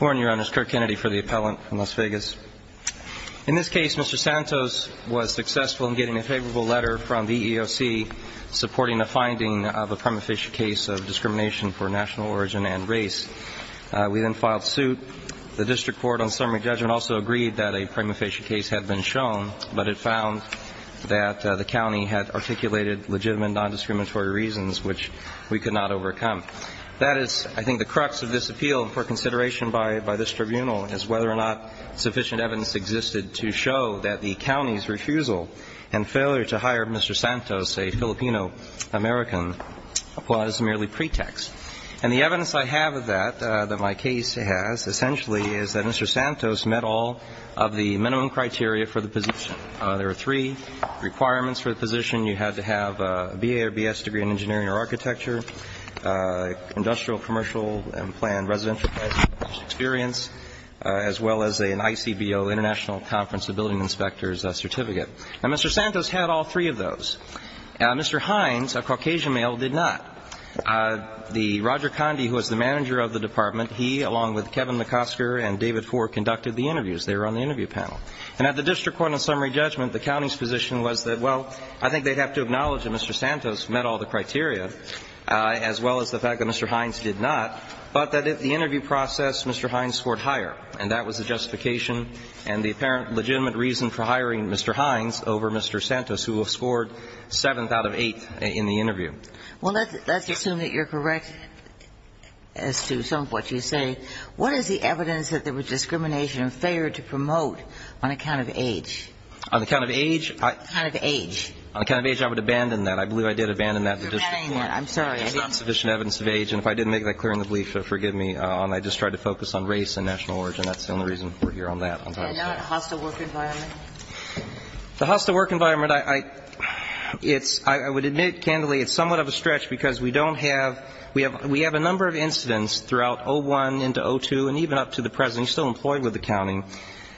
Warren, Your Honor. It's Kirk Kennedy for the Appellant from Las Vegas. In this case, Mr. Santos was successful in getting a favorable letter from the EEOC supporting a finding of a prima facie case of discrimination for national origin and race. We then filed suit. The district court on summary judgment also agreed that a prima facie case had been shown, but it found that the county had articulated legitimate nondiscriminatory reasons which we could not overcome. That is, I think, the crux of this appeal for consideration by this tribunal is whether or not sufficient evidence existed to show that the county's refusal and failure to hire Mr. Santos, a Filipino American, was merely pretext. And the evidence I have of that, that my case has, essentially is that Mr. Santos met all of the minimum criteria for the position. There were three requirements for the position. You had to have a B.A. or B.S. degree in engineering or architecture, industrial, commercial, and planned residential experience, as well as an ICBO, International Conference of Building Inspectors certificate. Now, Mr. Santos had all three of those. Mr. Hines, a Caucasian male, did not. The Roger Condie, who was the manager of the department, he, along with And at the district court on summary judgment, the county's position was that, well, I think they'd have to acknowledge that Mr. Santos met all the criteria, as well as the fact that Mr. Hines did not, but that at the interview process, Mr. Hines scored higher. And that was the justification and the apparent legitimate reason for hiring Mr. Hines over Mr. Santos, who scored seventh out of eight in the interview. Well, let's assume that you're correct as to some of what you say. What is the evidence that there was discrimination and failure to promote on account of age? On account of age, I On account of age. On account of age, I would abandon that. I believe I did abandon that at the district court. You're abandoning that. I'm sorry. There's not sufficient evidence of age. And if I didn't make that clear in the brief, forgive me. I just tried to focus on race and national origin. That's the only reason we're here on that. And not a hostile work environment? The hostile work environment, I would admit, candidly, it's somewhat of a stretch because we don't have we have a number of incidents throughout 01 into 02 and even up to the present, he's still employed with the county,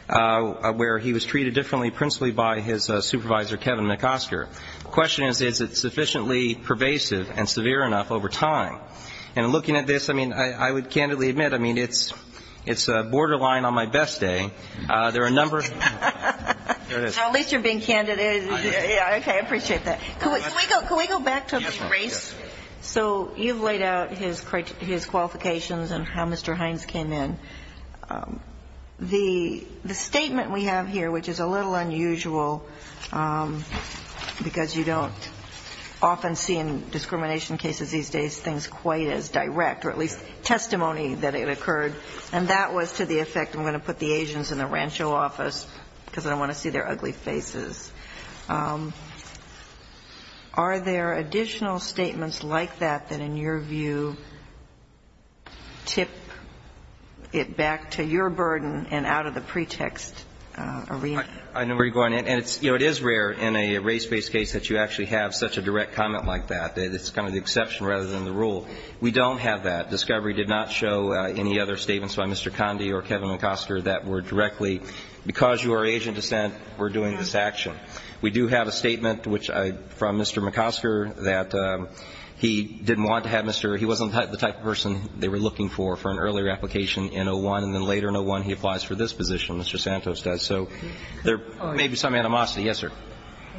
where he was treated differently, principally by his supervisor, Kevin McOsker. The question is, is it sufficiently pervasive and severe enough over time? And looking at this, I mean, I would candidly admit, I mean, it's borderline on my best day. There are a number Now, at least you're being candid. Okay, I appreciate that. Can we go back to race? So you've laid out his qualifications and how Mr. Hines came in. The statement we have here, which is a little unusual, because you don't often see in discrimination cases these days things quite as direct, or at least testimony that it occurred, and that was to the effect, I'm going to put the Asians in the rancho office because I don't want to see their ugly faces. Are there additional statements like that that in your view tip it back to your burden and out of the pretext arena? I know where you're going. And, you know, it is rare in a race-based case that you actually have such a direct comment like that. It's kind of the exception rather than the rule. We don't have that. Discovery did not show any other statements by Mr. Conde or Kevin Hines that were doing this action. We do have a statement which I --from Mr. McCosker that he didn't want to have Mr. He wasn't the type of person they were looking for for an earlier application in 01, and then later in 01 he applies for this position, Mr. Santos does. So there may be some animosity. Yes, sir. Can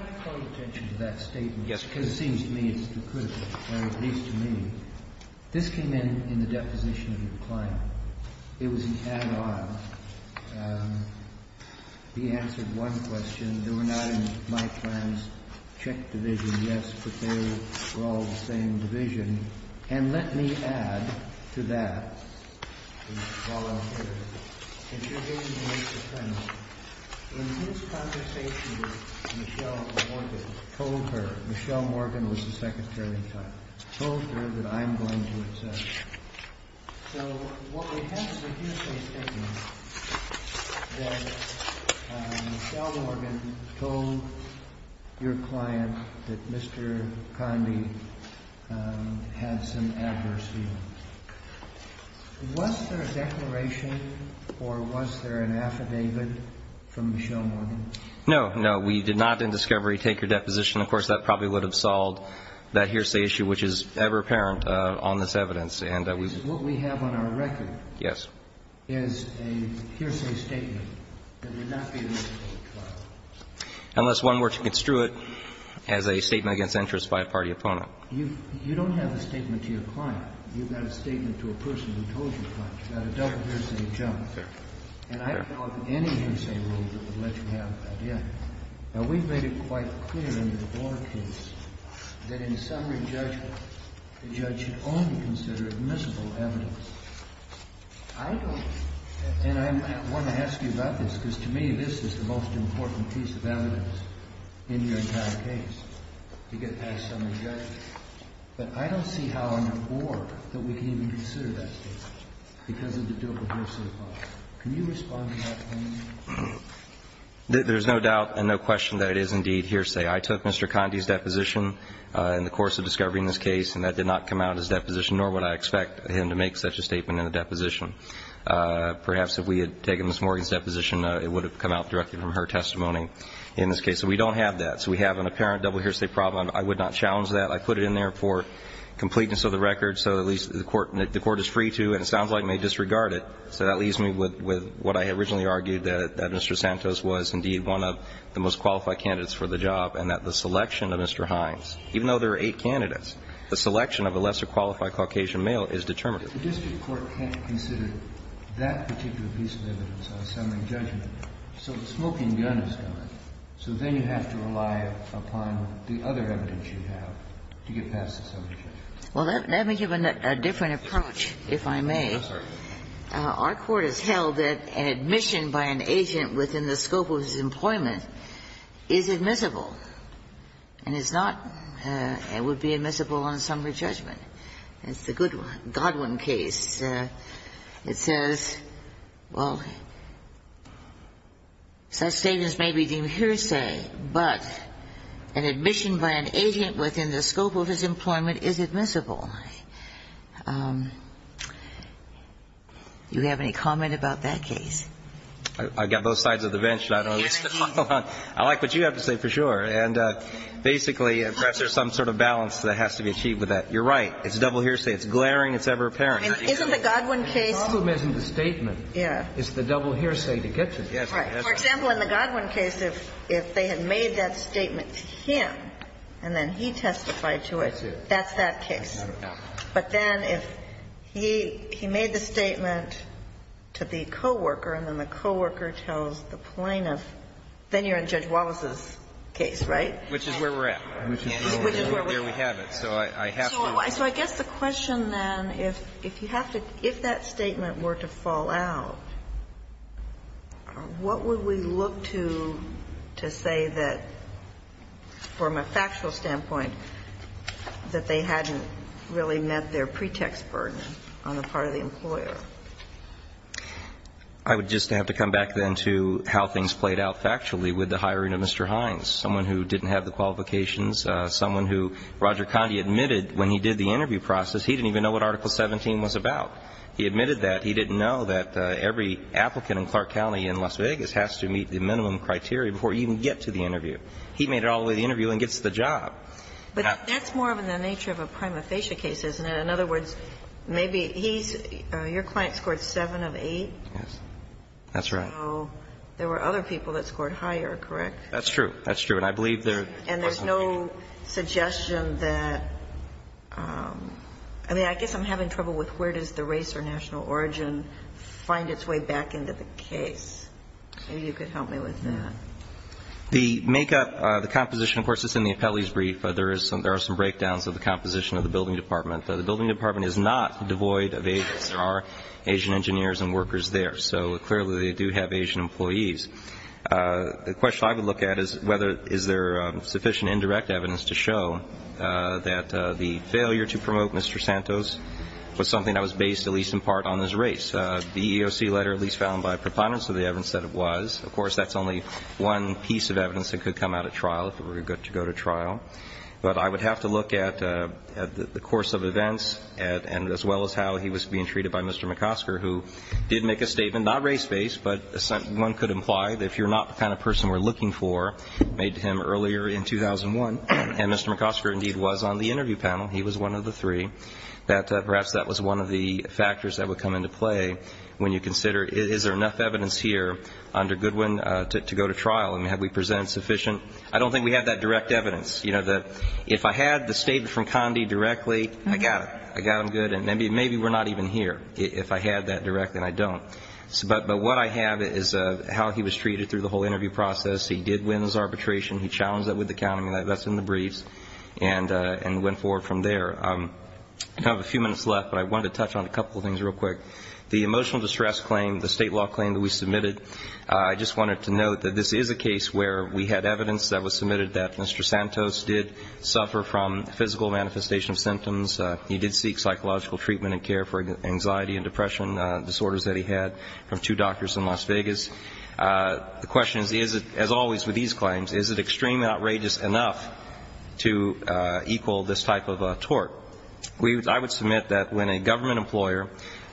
I call attention to that statement? Yes, please. Because it seems to me it's too critical, or at least to me. This came in in the deposition of your client. It was an add-on. He answered one question, they were not in my client's check division, yes, but they were all the same division, and let me add to that, while I'm here, if you're going to make the premise, in his conversation with Michelle Morgan, told her, Michelle Morgan was the secretary-type, told her that I'm going to take her deposition. So what we have is a hearsay statement that Michelle Morgan told your client that Mr. Conde had some adverse feelings. Was there a declaration or was there an affidavit from Michelle Morgan? No, no. We did not in discovery take her deposition. Of course, that probably would have solved that hearsay issue, which is ever apparent on this evidence, and that was- What we have on our record is a hearsay statement that would not be a reasonable trial. Unless one were to construe it as a statement against interest by a party opponent. You don't have a statement to your client. You've got a statement to a person who told your client. You've got a double hearsay jump. And I call it any hearsay rule that would let you have that. Now, we've made it quite clear in the Blore case that in summary, the judge should only consider admissible evidence. I don't, and I want to ask you about this because to me, this is the most important piece of evidence in your entire case to get past some of the judges. But I don't see how on the Board that we can even consider that statement because of the double hearsay part. Can you respond to that for me? There's no doubt and no question that it is indeed hearsay. I took Mr. Conde's deposition, nor would I expect him to make such a statement in a deposition. Perhaps if we had taken Ms. Morgan's deposition, it would have come out directly from her testimony in this case. So we don't have that. So we have an apparent double hearsay problem. I would not challenge that. I put it in there for completeness of the record so at least the Court is free to, and it sounds like, may disregard it. So that leaves me with what I originally argued, that Mr. Santos was indeed one of the most qualified candidates for the job and that the selection of Mr. Hines, even though there are eight candidates, the selection of a lesser qualified Caucasian male is determinative. If the district court can't consider that particular piece of evidence on assembly judgment, so the smoking gun is gone. So then you have to rely upon the other evidence you have to get past the assembly judgment. Well, let me give a different approach, if I may. Yes, sir. Our court has held that admission by an agent within the scope of his employment is admissible, and is not and would be admissible on assembly judgment. It's the Goodwin case. It says, well, such statements may be deemed hearsay, but an admission by an agent within the scope of his employment is admissible. Do you have any comment about that case? I've got both sides of the bench. I like what you have to say for sure. And basically, perhaps there's some sort of balance that has to be achieved with that. You're right. It's double hearsay. It's glaring. It's ever-apparent. Isn't the Goodwin case? The problem isn't the statement. Yeah. It's the double hearsay to get to it. For example, in the Goodwin case, if they had made that statement to him and then he testified to it, that's that case. But then if he made the statement to the coworker and then the coworker tells the plaintiff, then you're in Judge Wallace's case, right? Which is where we're at. Which is where we're at. There we have it. So I have to. So I guess the question then, if you have to – if that statement were to fall out, what would we look to to say that, from a factual standpoint, that they hadn't really met their pretext burden on the part of the employer? I would just have to come back, then, to how things played out factually with the hiring of Mr. Hines, someone who didn't have the qualifications, someone who Roger Condi admitted when he did the interview process, he didn't even know what Article 17 was about. He admitted that. He didn't know that every applicant in Clark County in Las Vegas has to meet the minimum criteria before you even get to the interview. He made it all the way to the interview and gets the job. But that's more of in the nature of a prima facie case, isn't it? In other words, maybe he's – your client scored 7 of 8. Yes. That's right. So there were other people that scored higher, correct? That's true. That's true. And I believe there – And there's no suggestion that – I mean, I guess I'm having trouble with where does the race or national origin find its way back into the case. Maybe you could help me with that. The make-up – the composition, of course, is in the appellee's brief. There are some breakdowns of the composition of the building department. The building department is not devoid of Asians. There are Asian engineers and workers there. So clearly they do have Asian employees. The question I would look at is whether is there sufficient indirect evidence to show that the failure to promote Mr. Santos was something that was based at least in part on his race. The EEOC letter at least found by proponents of the evidence said it was. Of course, that's only one piece of evidence that could come out at trial if it were to go to trial. But I would have to look at the course of events and as well as how he was being treated by Mr. McOsker, who did make a statement, not race-based, but one could imply that if you're not the kind of person we're looking for, made to him earlier in 2001, and Mr. McOsker indeed was on the interview panel, he was one of the three, that perhaps that was one of the factors that would come into play when you consider is there enough evidence here under Goodwin to go to trial and have we presented sufficient – I don't think we have that direct evidence. You know, if I had the statement from Condi directly, I got it. I got him good. And maybe we're not even here if I had that directly, and I don't. But what I have is how he was treated through the whole interview process. He did win his arbitration. He challenged that with the county, and that's in the briefs, and went forward from there. I have a few minutes left, but I wanted to touch on a couple of things real quick. The emotional distress claim, the state law claim that we submitted, I just wanted to note that this is a case where we had evidence that was submitted that Mr. Santos did suffer from physical manifestation of symptoms. He did seek psychological treatment and care for anxiety and depression disorders that he had from two doctors in Las Vegas. The question is, as always with these claims, is it extremely outrageous enough to equal this type of tort? I would submit that when a government employer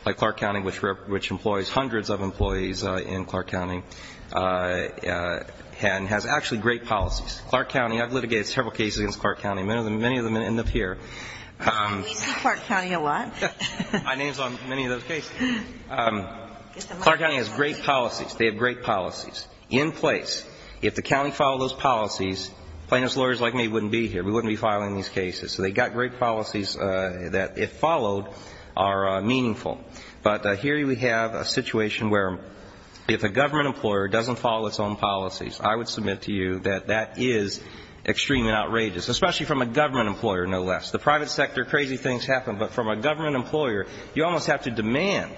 like Clark County, which employs hundreds of employees in Clark County, and has actually great policies. Clark County, I've litigated several cases against Clark County. Many of them end up here. We see Clark County a lot. My name's on many of those cases. Clark County has great policies. They have great policies in place. If the county followed those policies, plaintiff's lawyers like me wouldn't be here. We wouldn't be filing these cases. So they've got great policies that, if followed, are meaningful. But here we have a situation where if a government employer doesn't follow its own policies, I would submit to you that that is extreme and outrageous, especially from a government employer, no less. The private sector, crazy things happen. But from a government employer, you almost have to demand,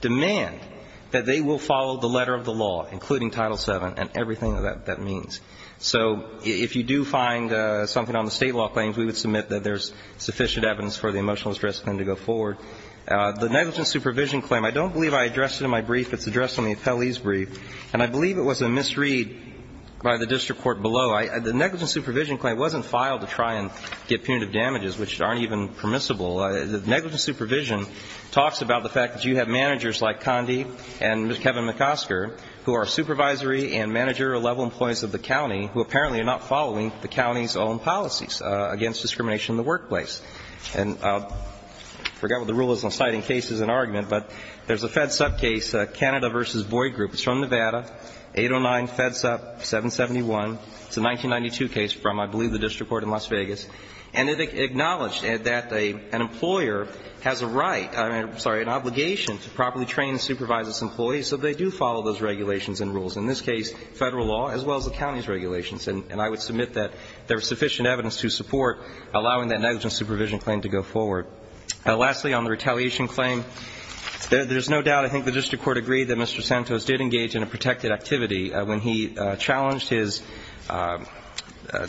demand that they will follow the letter of the law, including Title VII and everything that that means. So if you do find something on the state law claims, we would submit that there's sufficient evidence for the emotional distress claim to go forward. The negligence supervision claim, I don't believe I addressed it in my brief. It's addressed on the appellee's brief. And I believe it was a misread by the district court below. The negligence supervision claim wasn't filed to try and get punitive damages, which aren't even permissible. The negligence supervision talks about the fact that you have managers like Condi and Kevin McOsker, who are supervisory and manager-level employees of the county, who apparently are not following the county's own policies against discrimination in the workplace. And I forgot what the rule is on citing cases and argument, but there's a FEDSUP case, Canada v. Boyd Group. It's from Nevada, 809 FEDSUP 771. It's a 1992 case from, I believe, the district court in Las Vegas. And it acknowledged that an employer has a right, I'm sorry, an obligation to properly train and supervise its employees, so they do follow those regulations and rules, in this case, Federal law as well as the county's regulations. And I would submit that there was sufficient evidence to support allowing that negligence supervision claim to go forward. Lastly, on the retaliation claim, there's no doubt, I think, the district court agreed that Mr. Santos did engage in a protected activity when he challenged his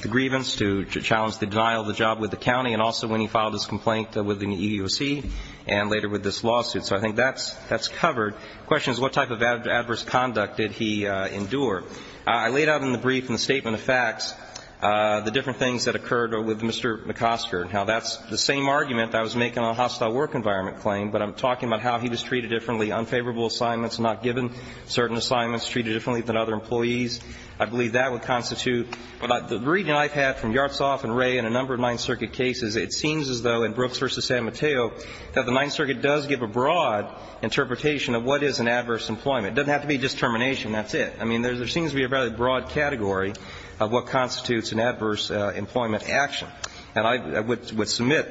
grievance to challenge the denial of the job with the county, and also when he filed his complaint with the EEOC, and later with this lawsuit. So I think that's covered. The question is what type of adverse conduct did he endure? I laid out in the brief in the statement of facts the different things that occurred with Mr. McOsker and how that's the same argument that was making on a hostile work environment claim, but I'm talking about how he was treated differently, unfavorable assignments, not given certain assignments, treated differently than other employees. I believe that would constitute. The reading I've had from Yartsov and Wray and a number of Ninth Circuit cases, it seems as though in Brooks v. San Mateo that the Ninth Circuit does give a broad interpretation of what is an adverse employment. It doesn't have to be just termination, that's it. I mean, there seems to be a very broad category of what constitutes an adverse employment action. And I would submit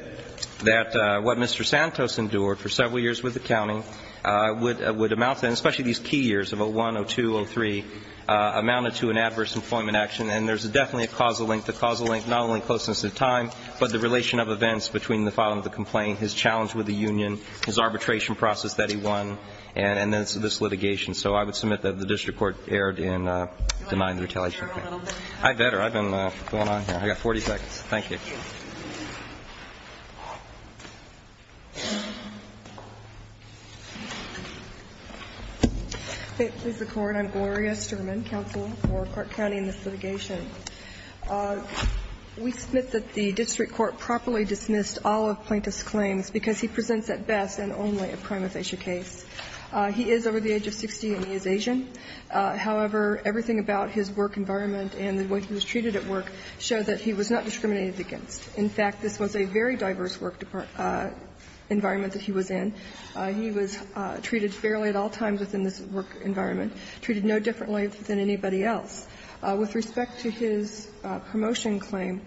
that what Mr. Santos endured for several years with the county would amount to, and especially these key years of 01, 02, 03, amounted to an adverse employment action. And there's definitely a causal link. The causal link, not only closeness of time, but the relation of events between the filing of the complaint, his challenge with the union, his arbitration process that he won, and then this litigation. So I would submit that the district court erred in denying the retaliation. I'd better. I've been going on here. I've got 40 seconds. Thank you. Gloria Sturman, counsel for Clark County in this litigation. We submit that the district court properly dismissed all of Plaintiff's claims because he presents at best and only a prima facie case. He is over the age of 60 and he is Asian. However, everything about his work environment and the way he was treated at work showed that he was not discriminated against. In fact, this was a very diverse work environment that he was in. He was treated fairly at all times within this work environment. Treated no differently than anybody else. With respect to his promotion claim,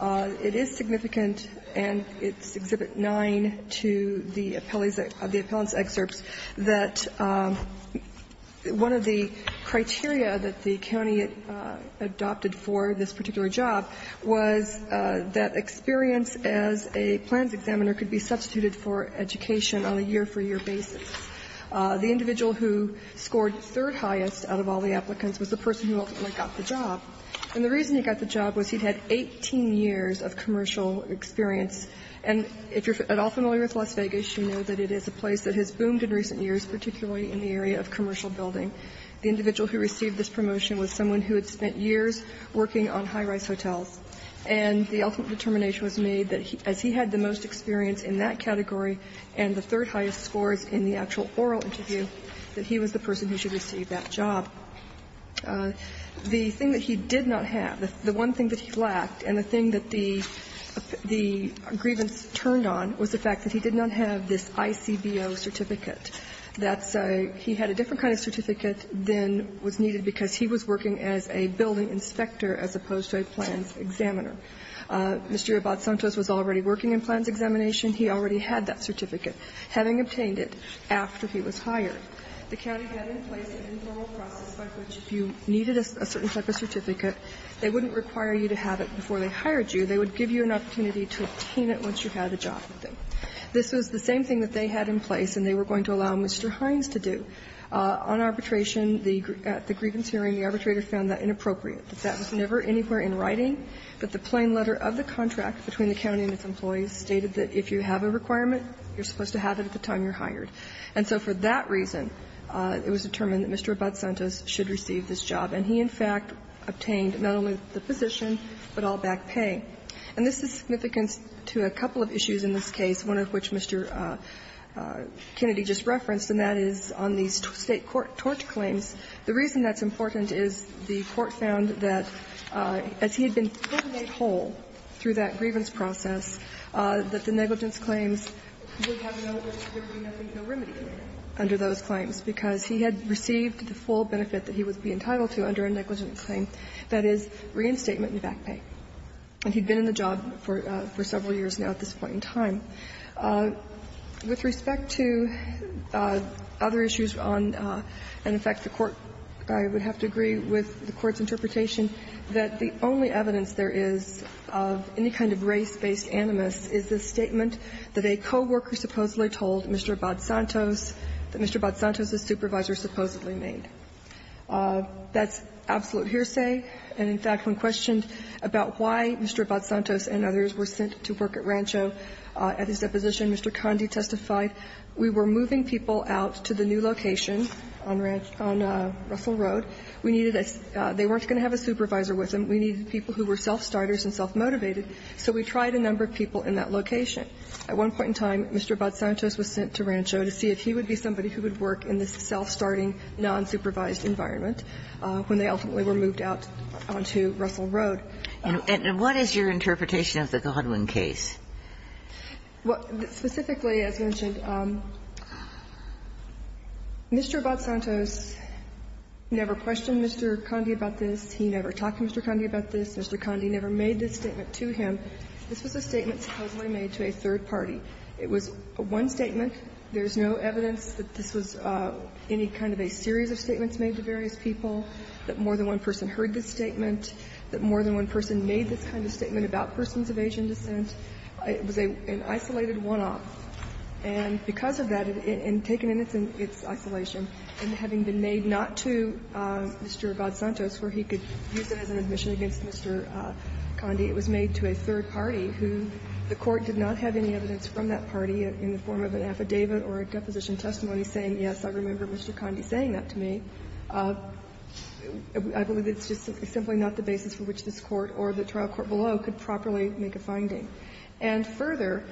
it is significant, and it's Exhibit 9 to the appellate's excerpts, that one of the criteria that the county adopted for this particular job was that experience as a plans examiner could be substituted for education on a year-for-year basis. The individual who scored third highest out of all the applicants was the person who ultimately got the job. And the reason he got the job was he'd had 18 years of commercial experience. And if you're at all familiar with Las Vegas, you know that it is a place that has boomed in recent years, particularly in the area of commercial building. The individual who received this promotion was someone who had spent years working on high-rise hotels. And the ultimate determination was made that as he had the most experience in that category and the third highest scores in the actual oral interview, that he was the person who should receive that job. The thing that he did not have, the one thing that he lacked and the thing that the grievance turned on was the fact that he did not have this ICBO certificate. That's a he had a different kind of certificate than was needed because he was working as a building inspector as opposed to a plans examiner. Mr. Rabat-Santos was already working in plans examination. He already had that certificate, having obtained it after he was hired. The county had in place an informal process by which if you needed a certain type of certificate, they wouldn't require you to have it before they hired you. They would give you an opportunity to obtain it once you had a job with them. This was the same thing that they had in place and they were going to allow Mr. Hines to do. On arbitration, at the grievance hearing, the arbitrator found that inappropriate. That was never anywhere in writing, but the plain letter of the contract between the county and its employees stated that if you have a requirement, you're supposed to have it at the time you're hired. And so for that reason, it was determined that Mr. Rabat-Santos should receive this job. And he, in fact, obtained not only the position, but all back pay. And this is significant to a couple of issues in this case, one of which Mr. Kennedy just referenced, and that is on these State court tort claims. The reason that's important is the Court found that as he had been given a hold through that grievance process, that the negligence claims would have no remedy under those claim that is reinstatement and back pay. And he'd been in the job for several years now at this point in time. With respect to other issues on, in fact, the Court, I would have to agree with the Court's interpretation that the only evidence there is of any kind of race-based animus is the statement that a co-worker supposedly told Mr. Rabat-Santos that Mr. That's absolute hearsay. And, in fact, when questioned about why Mr. Rabat-Santos and others were sent to work at Rancho, at his deposition, Mr. Condi testified, We were moving people out to the new location on Russell Road. We needed a they weren't going to have a supervisor with them. We needed people who were self-starters and self-motivated. So we tried a number of people in that location. At one point in time, Mr. Rabat-Santos was sent to Rancho to see if he would be somebody who would work in this self-starting, non-supervised environment when they ultimately were moved out onto Russell Road. And what is your interpretation of the Godwin case? Specifically, as mentioned, Mr. Rabat-Santos never questioned Mr. Condi about this. He never talked to Mr. Condi about this. Mr. Condi never made this statement to him. This was a statement supposedly made to a third party. It was one statement. There is no evidence that this was any kind of a series of statements made to various people, that more than one person heard this statement, that more than one person made this kind of statement about persons of Asian descent. It was an isolated one-off. And because of that, and taken in its isolation, and having been made not to Mr. Rabat-Santos where he could use it as an admission against Mr. Condi, it was made to a third party in the form of an affidavit or a deposition testimony saying, yes, I remember Mr. Condi saying that to me. I believe it's just simply not the basis for which this Court or the trial court below could properly make a finding. And further,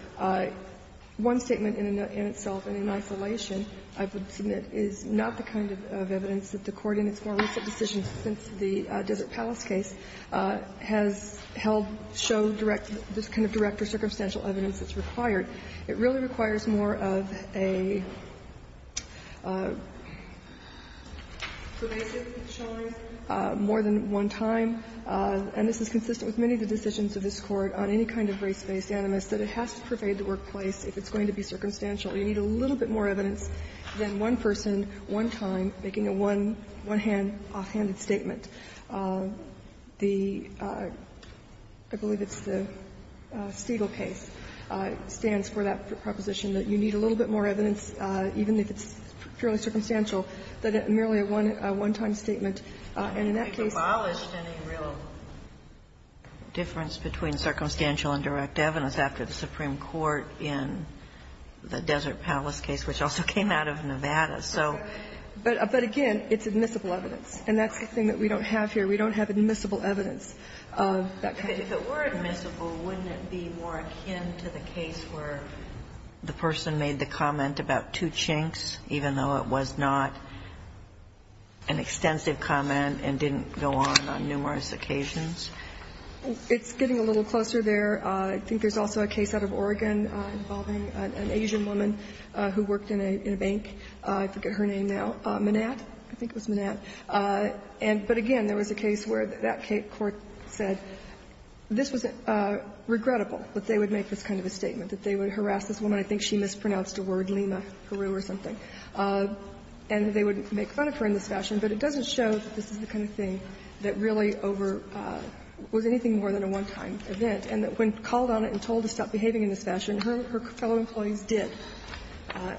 one statement in itself, and in isolation, I would submit, is not the kind of evidence that the Court in its more recent decisions since the Desert Palace case has held show direct, this kind of direct or circumstantial evidence that's required. It really requires more of a pervasive showing, more than one time, and this is consistent with many of the decisions of this Court on any kind of race-based animus, that it has to pervade the workplace if it's going to be circumstantial. You need a little bit more evidence than one person, one time, making a one-hand, offhanded statement. The — I believe it's the Stegall case stands for that proposition, that you need a little bit more evidence, even if it's purely circumstantial, than merely a one-time statement. And in that case they abolished any real difference between circumstantial and direct evidence after the Supreme Court in the Desert Palace case, which also came out of Nevada. So — But again, it's admissible evidence, and that's the thing that we don't have here. We don't have admissible evidence of that kind. If it were admissible, wouldn't it be more akin to the case where the person made the comment about two chinks, even though it was not an extensive comment and didn't go on on numerous occasions? It's getting a little closer there. I think there's also a case out of Oregon involving an Asian woman who worked in a bank. I forget her name now. Manat? I think it was Manat. And — but again, there was a case where that court said this was regrettable, that they would make this kind of a statement, that they would harass this woman. I think she mispronounced a word, Lima, Peru or something. And they would make fun of her in this fashion, but it doesn't show that this is the kind of thing that really over — was anything more than a one-time event, and that when called on and told to stop behaving in this fashion, her fellow employees did.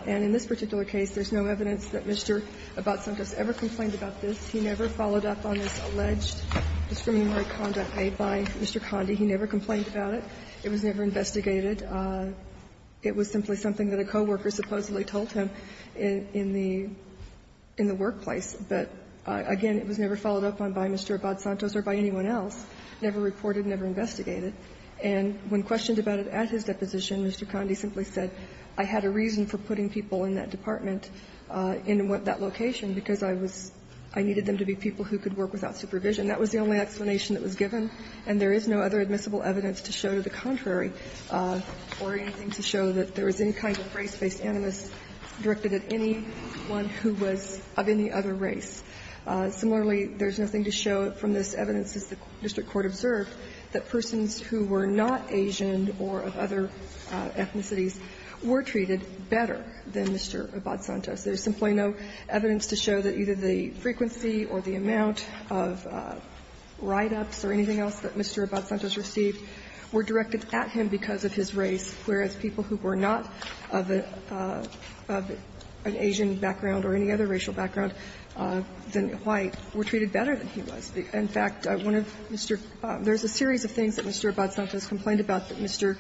And in this particular case, there's no evidence that Mr. Abad-Santos ever complained about this. He never followed up on this alleged discriminatory conduct made by Mr. Condi. He never complained about it. It was never investigated. It was simply something that a co-worker supposedly told him in the workplace. But again, it was never followed up on by Mr. Abad-Santos or by anyone else, never reported, never investigated. And when questioned about it at his deposition, Mr. Condi simply said, I had a reason for putting people in that department in that location because I was — I needed them to be people who could work without supervision. That was the only explanation that was given, and there is no other admissible evidence to show to the contrary or anything to show that there was any kind of race-based animus directed at anyone who was of any other race. Similarly, there's nothing to show from this evidence, as the district court observed, that persons who were not Asian or of other ethnicities were treated better than Mr. Abad-Santos. There's simply no evidence to show that either the frequency or the amount of write-ups or anything else that Mr. Abad-Santos received were directed at him because of his race, whereas people who were not of an Asian background or any other racial background than white were treated better than he was. In fact, one of Mr. — there's a series of things that Mr. Abad-Santos complained about that Mr.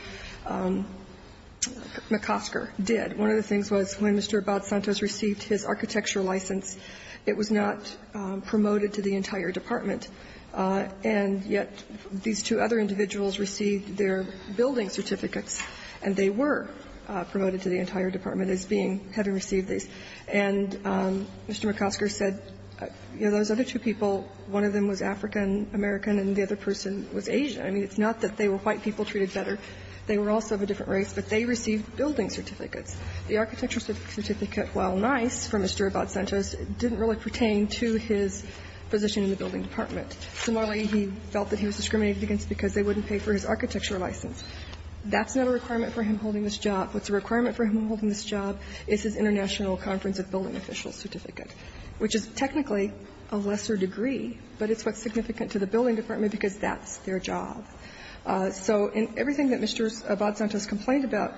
McOsker did. One of the things was when Mr. Abad-Santos received his architectural license, it was not promoted to the entire department, and yet these two other individuals received their building certificates, and they were promoted to the entire department as being — having received these. And Mr. McOsker said, you know, those other two people, one of them was African-American and the other person was Asian. I mean, it's not that they were white people treated better. They were also of a different race, but they received building certificates. The architectural certificate, while nice for Mr. Abad-Santos, didn't really pertain to his position in the building department. Similarly, he felt that he was discriminated against because they wouldn't pay for his architecture license. That's not a requirement for him holding this job. What's a requirement for him holding this job is his international conference of building official certificate, which is technically a lesser degree, but it's what's significant to the building department because that's their job. So in everything that Mr. Abad-Santos complained about,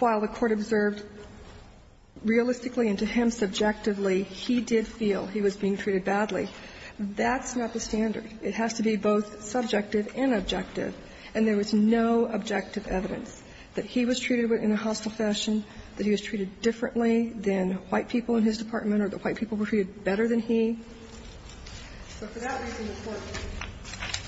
while the Court observed realistically and to him subjectively, he did feel he was being treated badly. That's not the standard. It has to be both subjective and objective. And there was no objective evidence that he was treated in a hostile fashion, that he was treated differently than white people in his department or that white people were treated better than he. So for that reason, the Court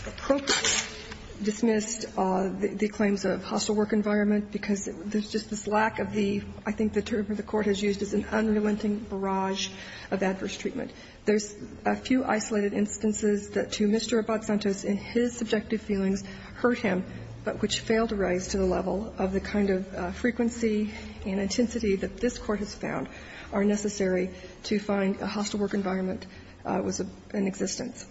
appropriately dismissed the claims of hostile work environment because there's just this lack of the – I think the term that the Court has used is an unrelenting barrage of adverse treatment. There's a few isolated instances that to Mr. Abad-Santos in his subjective feelings hurt him, but which failed to rise to the level of the kind of frequency and intensity that this Court has found are necessary to find a hostile work environment was in existence.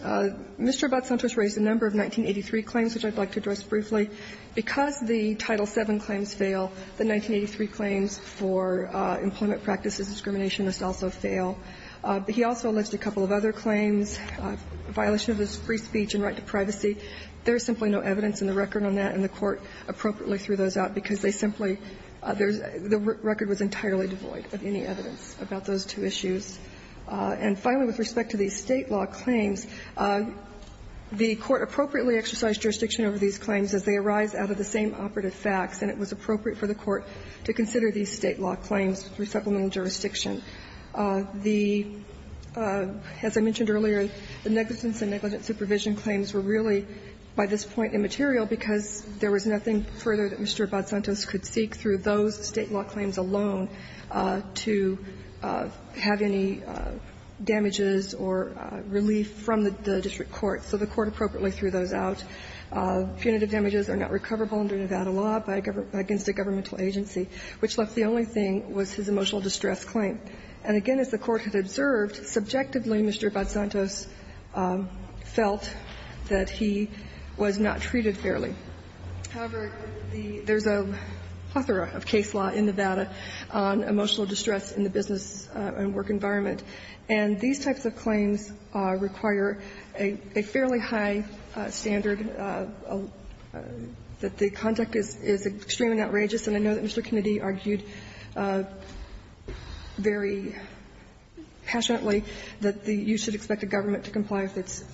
Mr. Abad-Santos raised a number of 1983 claims, which I'd like to address briefly. Because the Title VII claims fail, the 1983 claims for employment practices discrimination must also fail. But he also alleged a couple of other claims, violation of his free speech and right to privacy. There's simply no evidence in the record on that, and the Court appropriately threw those out because they simply – there's – the record was entirely devoid of any evidence about those two issues. And finally, with respect to these State law claims, the Court appropriately exercised jurisdiction over these claims as they arise out of the same operative facts, and it was appropriate for the Court to consider these State law claims through supplemental jurisdiction. The – as I mentioned earlier, the negligence and negligent supervision claims were really, by this point, immaterial because there was nothing further that Mr. Abad-Santos could seek through those State law claims alone to have any damages or relief from the district court. So the Court appropriately threw those out. Punitive damages are not recoverable under Nevada law by a government – against the district court, but the only thing was his emotional distress claim. And again, as the Court had observed, subjectively, Mr. Abad-Santos felt that he was not treated fairly. However, the – there's a plethora of case law in Nevada on emotional distress in the business and work environment, and these types of claims require a fairly high standard that the conduct is – is extremely outrageous, and I know that Mr. Abad-Santos and the committee argued very passionately that the – you should expect the government to comply with its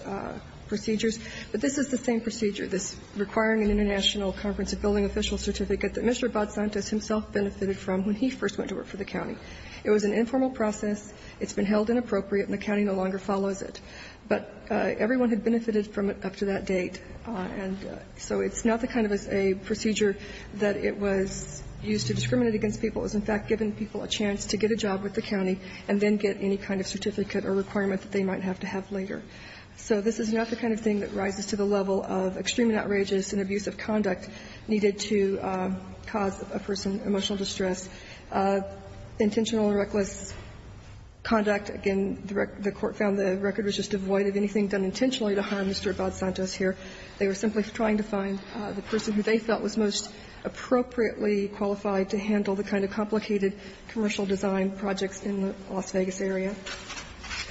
procedures. But this is the same procedure, this requiring an international conference of building officials certificate that Mr. Abad-Santos himself benefited from when he first went to work for the county. It was an informal process. It's been held inappropriate, and the county no longer follows it. But everyone had benefited from it up to that date, and so it's not the kind of a procedure that it was used to discriminate against people. It was, in fact, giving people a chance to get a job with the county and then get any kind of certificate or requirement that they might have to have later. So this is not the kind of thing that rises to the level of extremely outrageous and abusive conduct needed to cause a person emotional distress. Intentional and reckless conduct, again, the Court found the record was just devoid of anything done intentionally to harm Mr. Abad-Santos here. They were simply trying to find the person who they felt was most appropriately qualified to handle the kind of complicated commercial design projects in the Las Vegas area.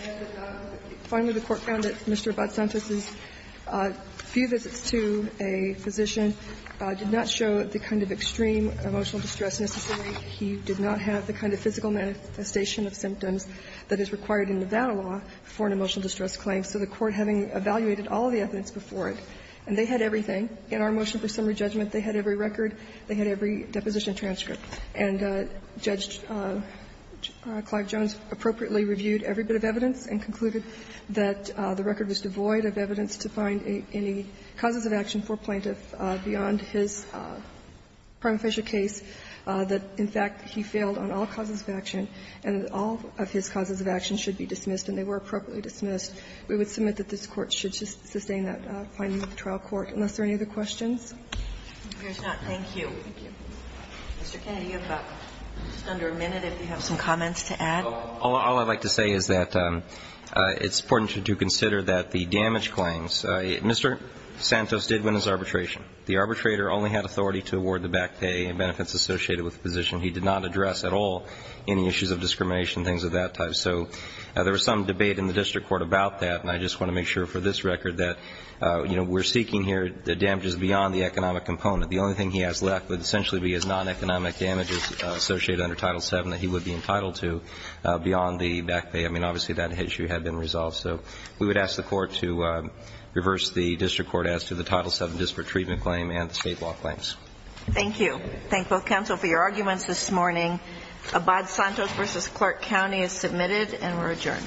And finally, the Court found that Mr. Abad-Santos' few visits to a physician did not show the kind of extreme emotional distress necessary. He did not have the kind of physical manifestation of symptoms that is required in Nevada law for an emotional distress claim. So the Court, having evaluated all of the evidence before it, and they had everything in our motion for summary judgment. They had every record. They had every deposition transcript. And Judge Clive Jones appropriately reviewed every bit of evidence and concluded that the record was devoid of evidence to find any causes of action for a plaintiff beyond his prima facie case, that, in fact, he failed on all causes of action, and that all of his causes of action should be dismissed, and they were appropriately dismissed. We would submit that this Court should sustain that finding with the trial court, unless there are any other questions. If there's not, thank you. Mr. Kennedy, you have just under a minute, if you have some comments to add. All I'd like to say is that it's important to consider that the damage claims Mr. Santos did win his arbitration. The arbitrator only had authority to award the back pay and benefits associated with the position. He did not address at all any issues of discrimination, things of that type. So there was some debate in the district court about that, and I just want to make sure for this record that, you know, we're seeking here the damages beyond the economic component. The only thing he has left would essentially be his non-economic damages associated under Title VII that he would be entitled to beyond the back pay. I mean, obviously, that issue had been resolved. So we would ask the Court to reverse the district court as to the Title VII disparate treatment claim and the state law claims. Thank you. I thank both counsel for your arguments this morning. Abad Santos versus Clark County is submitted, and we're adjourned.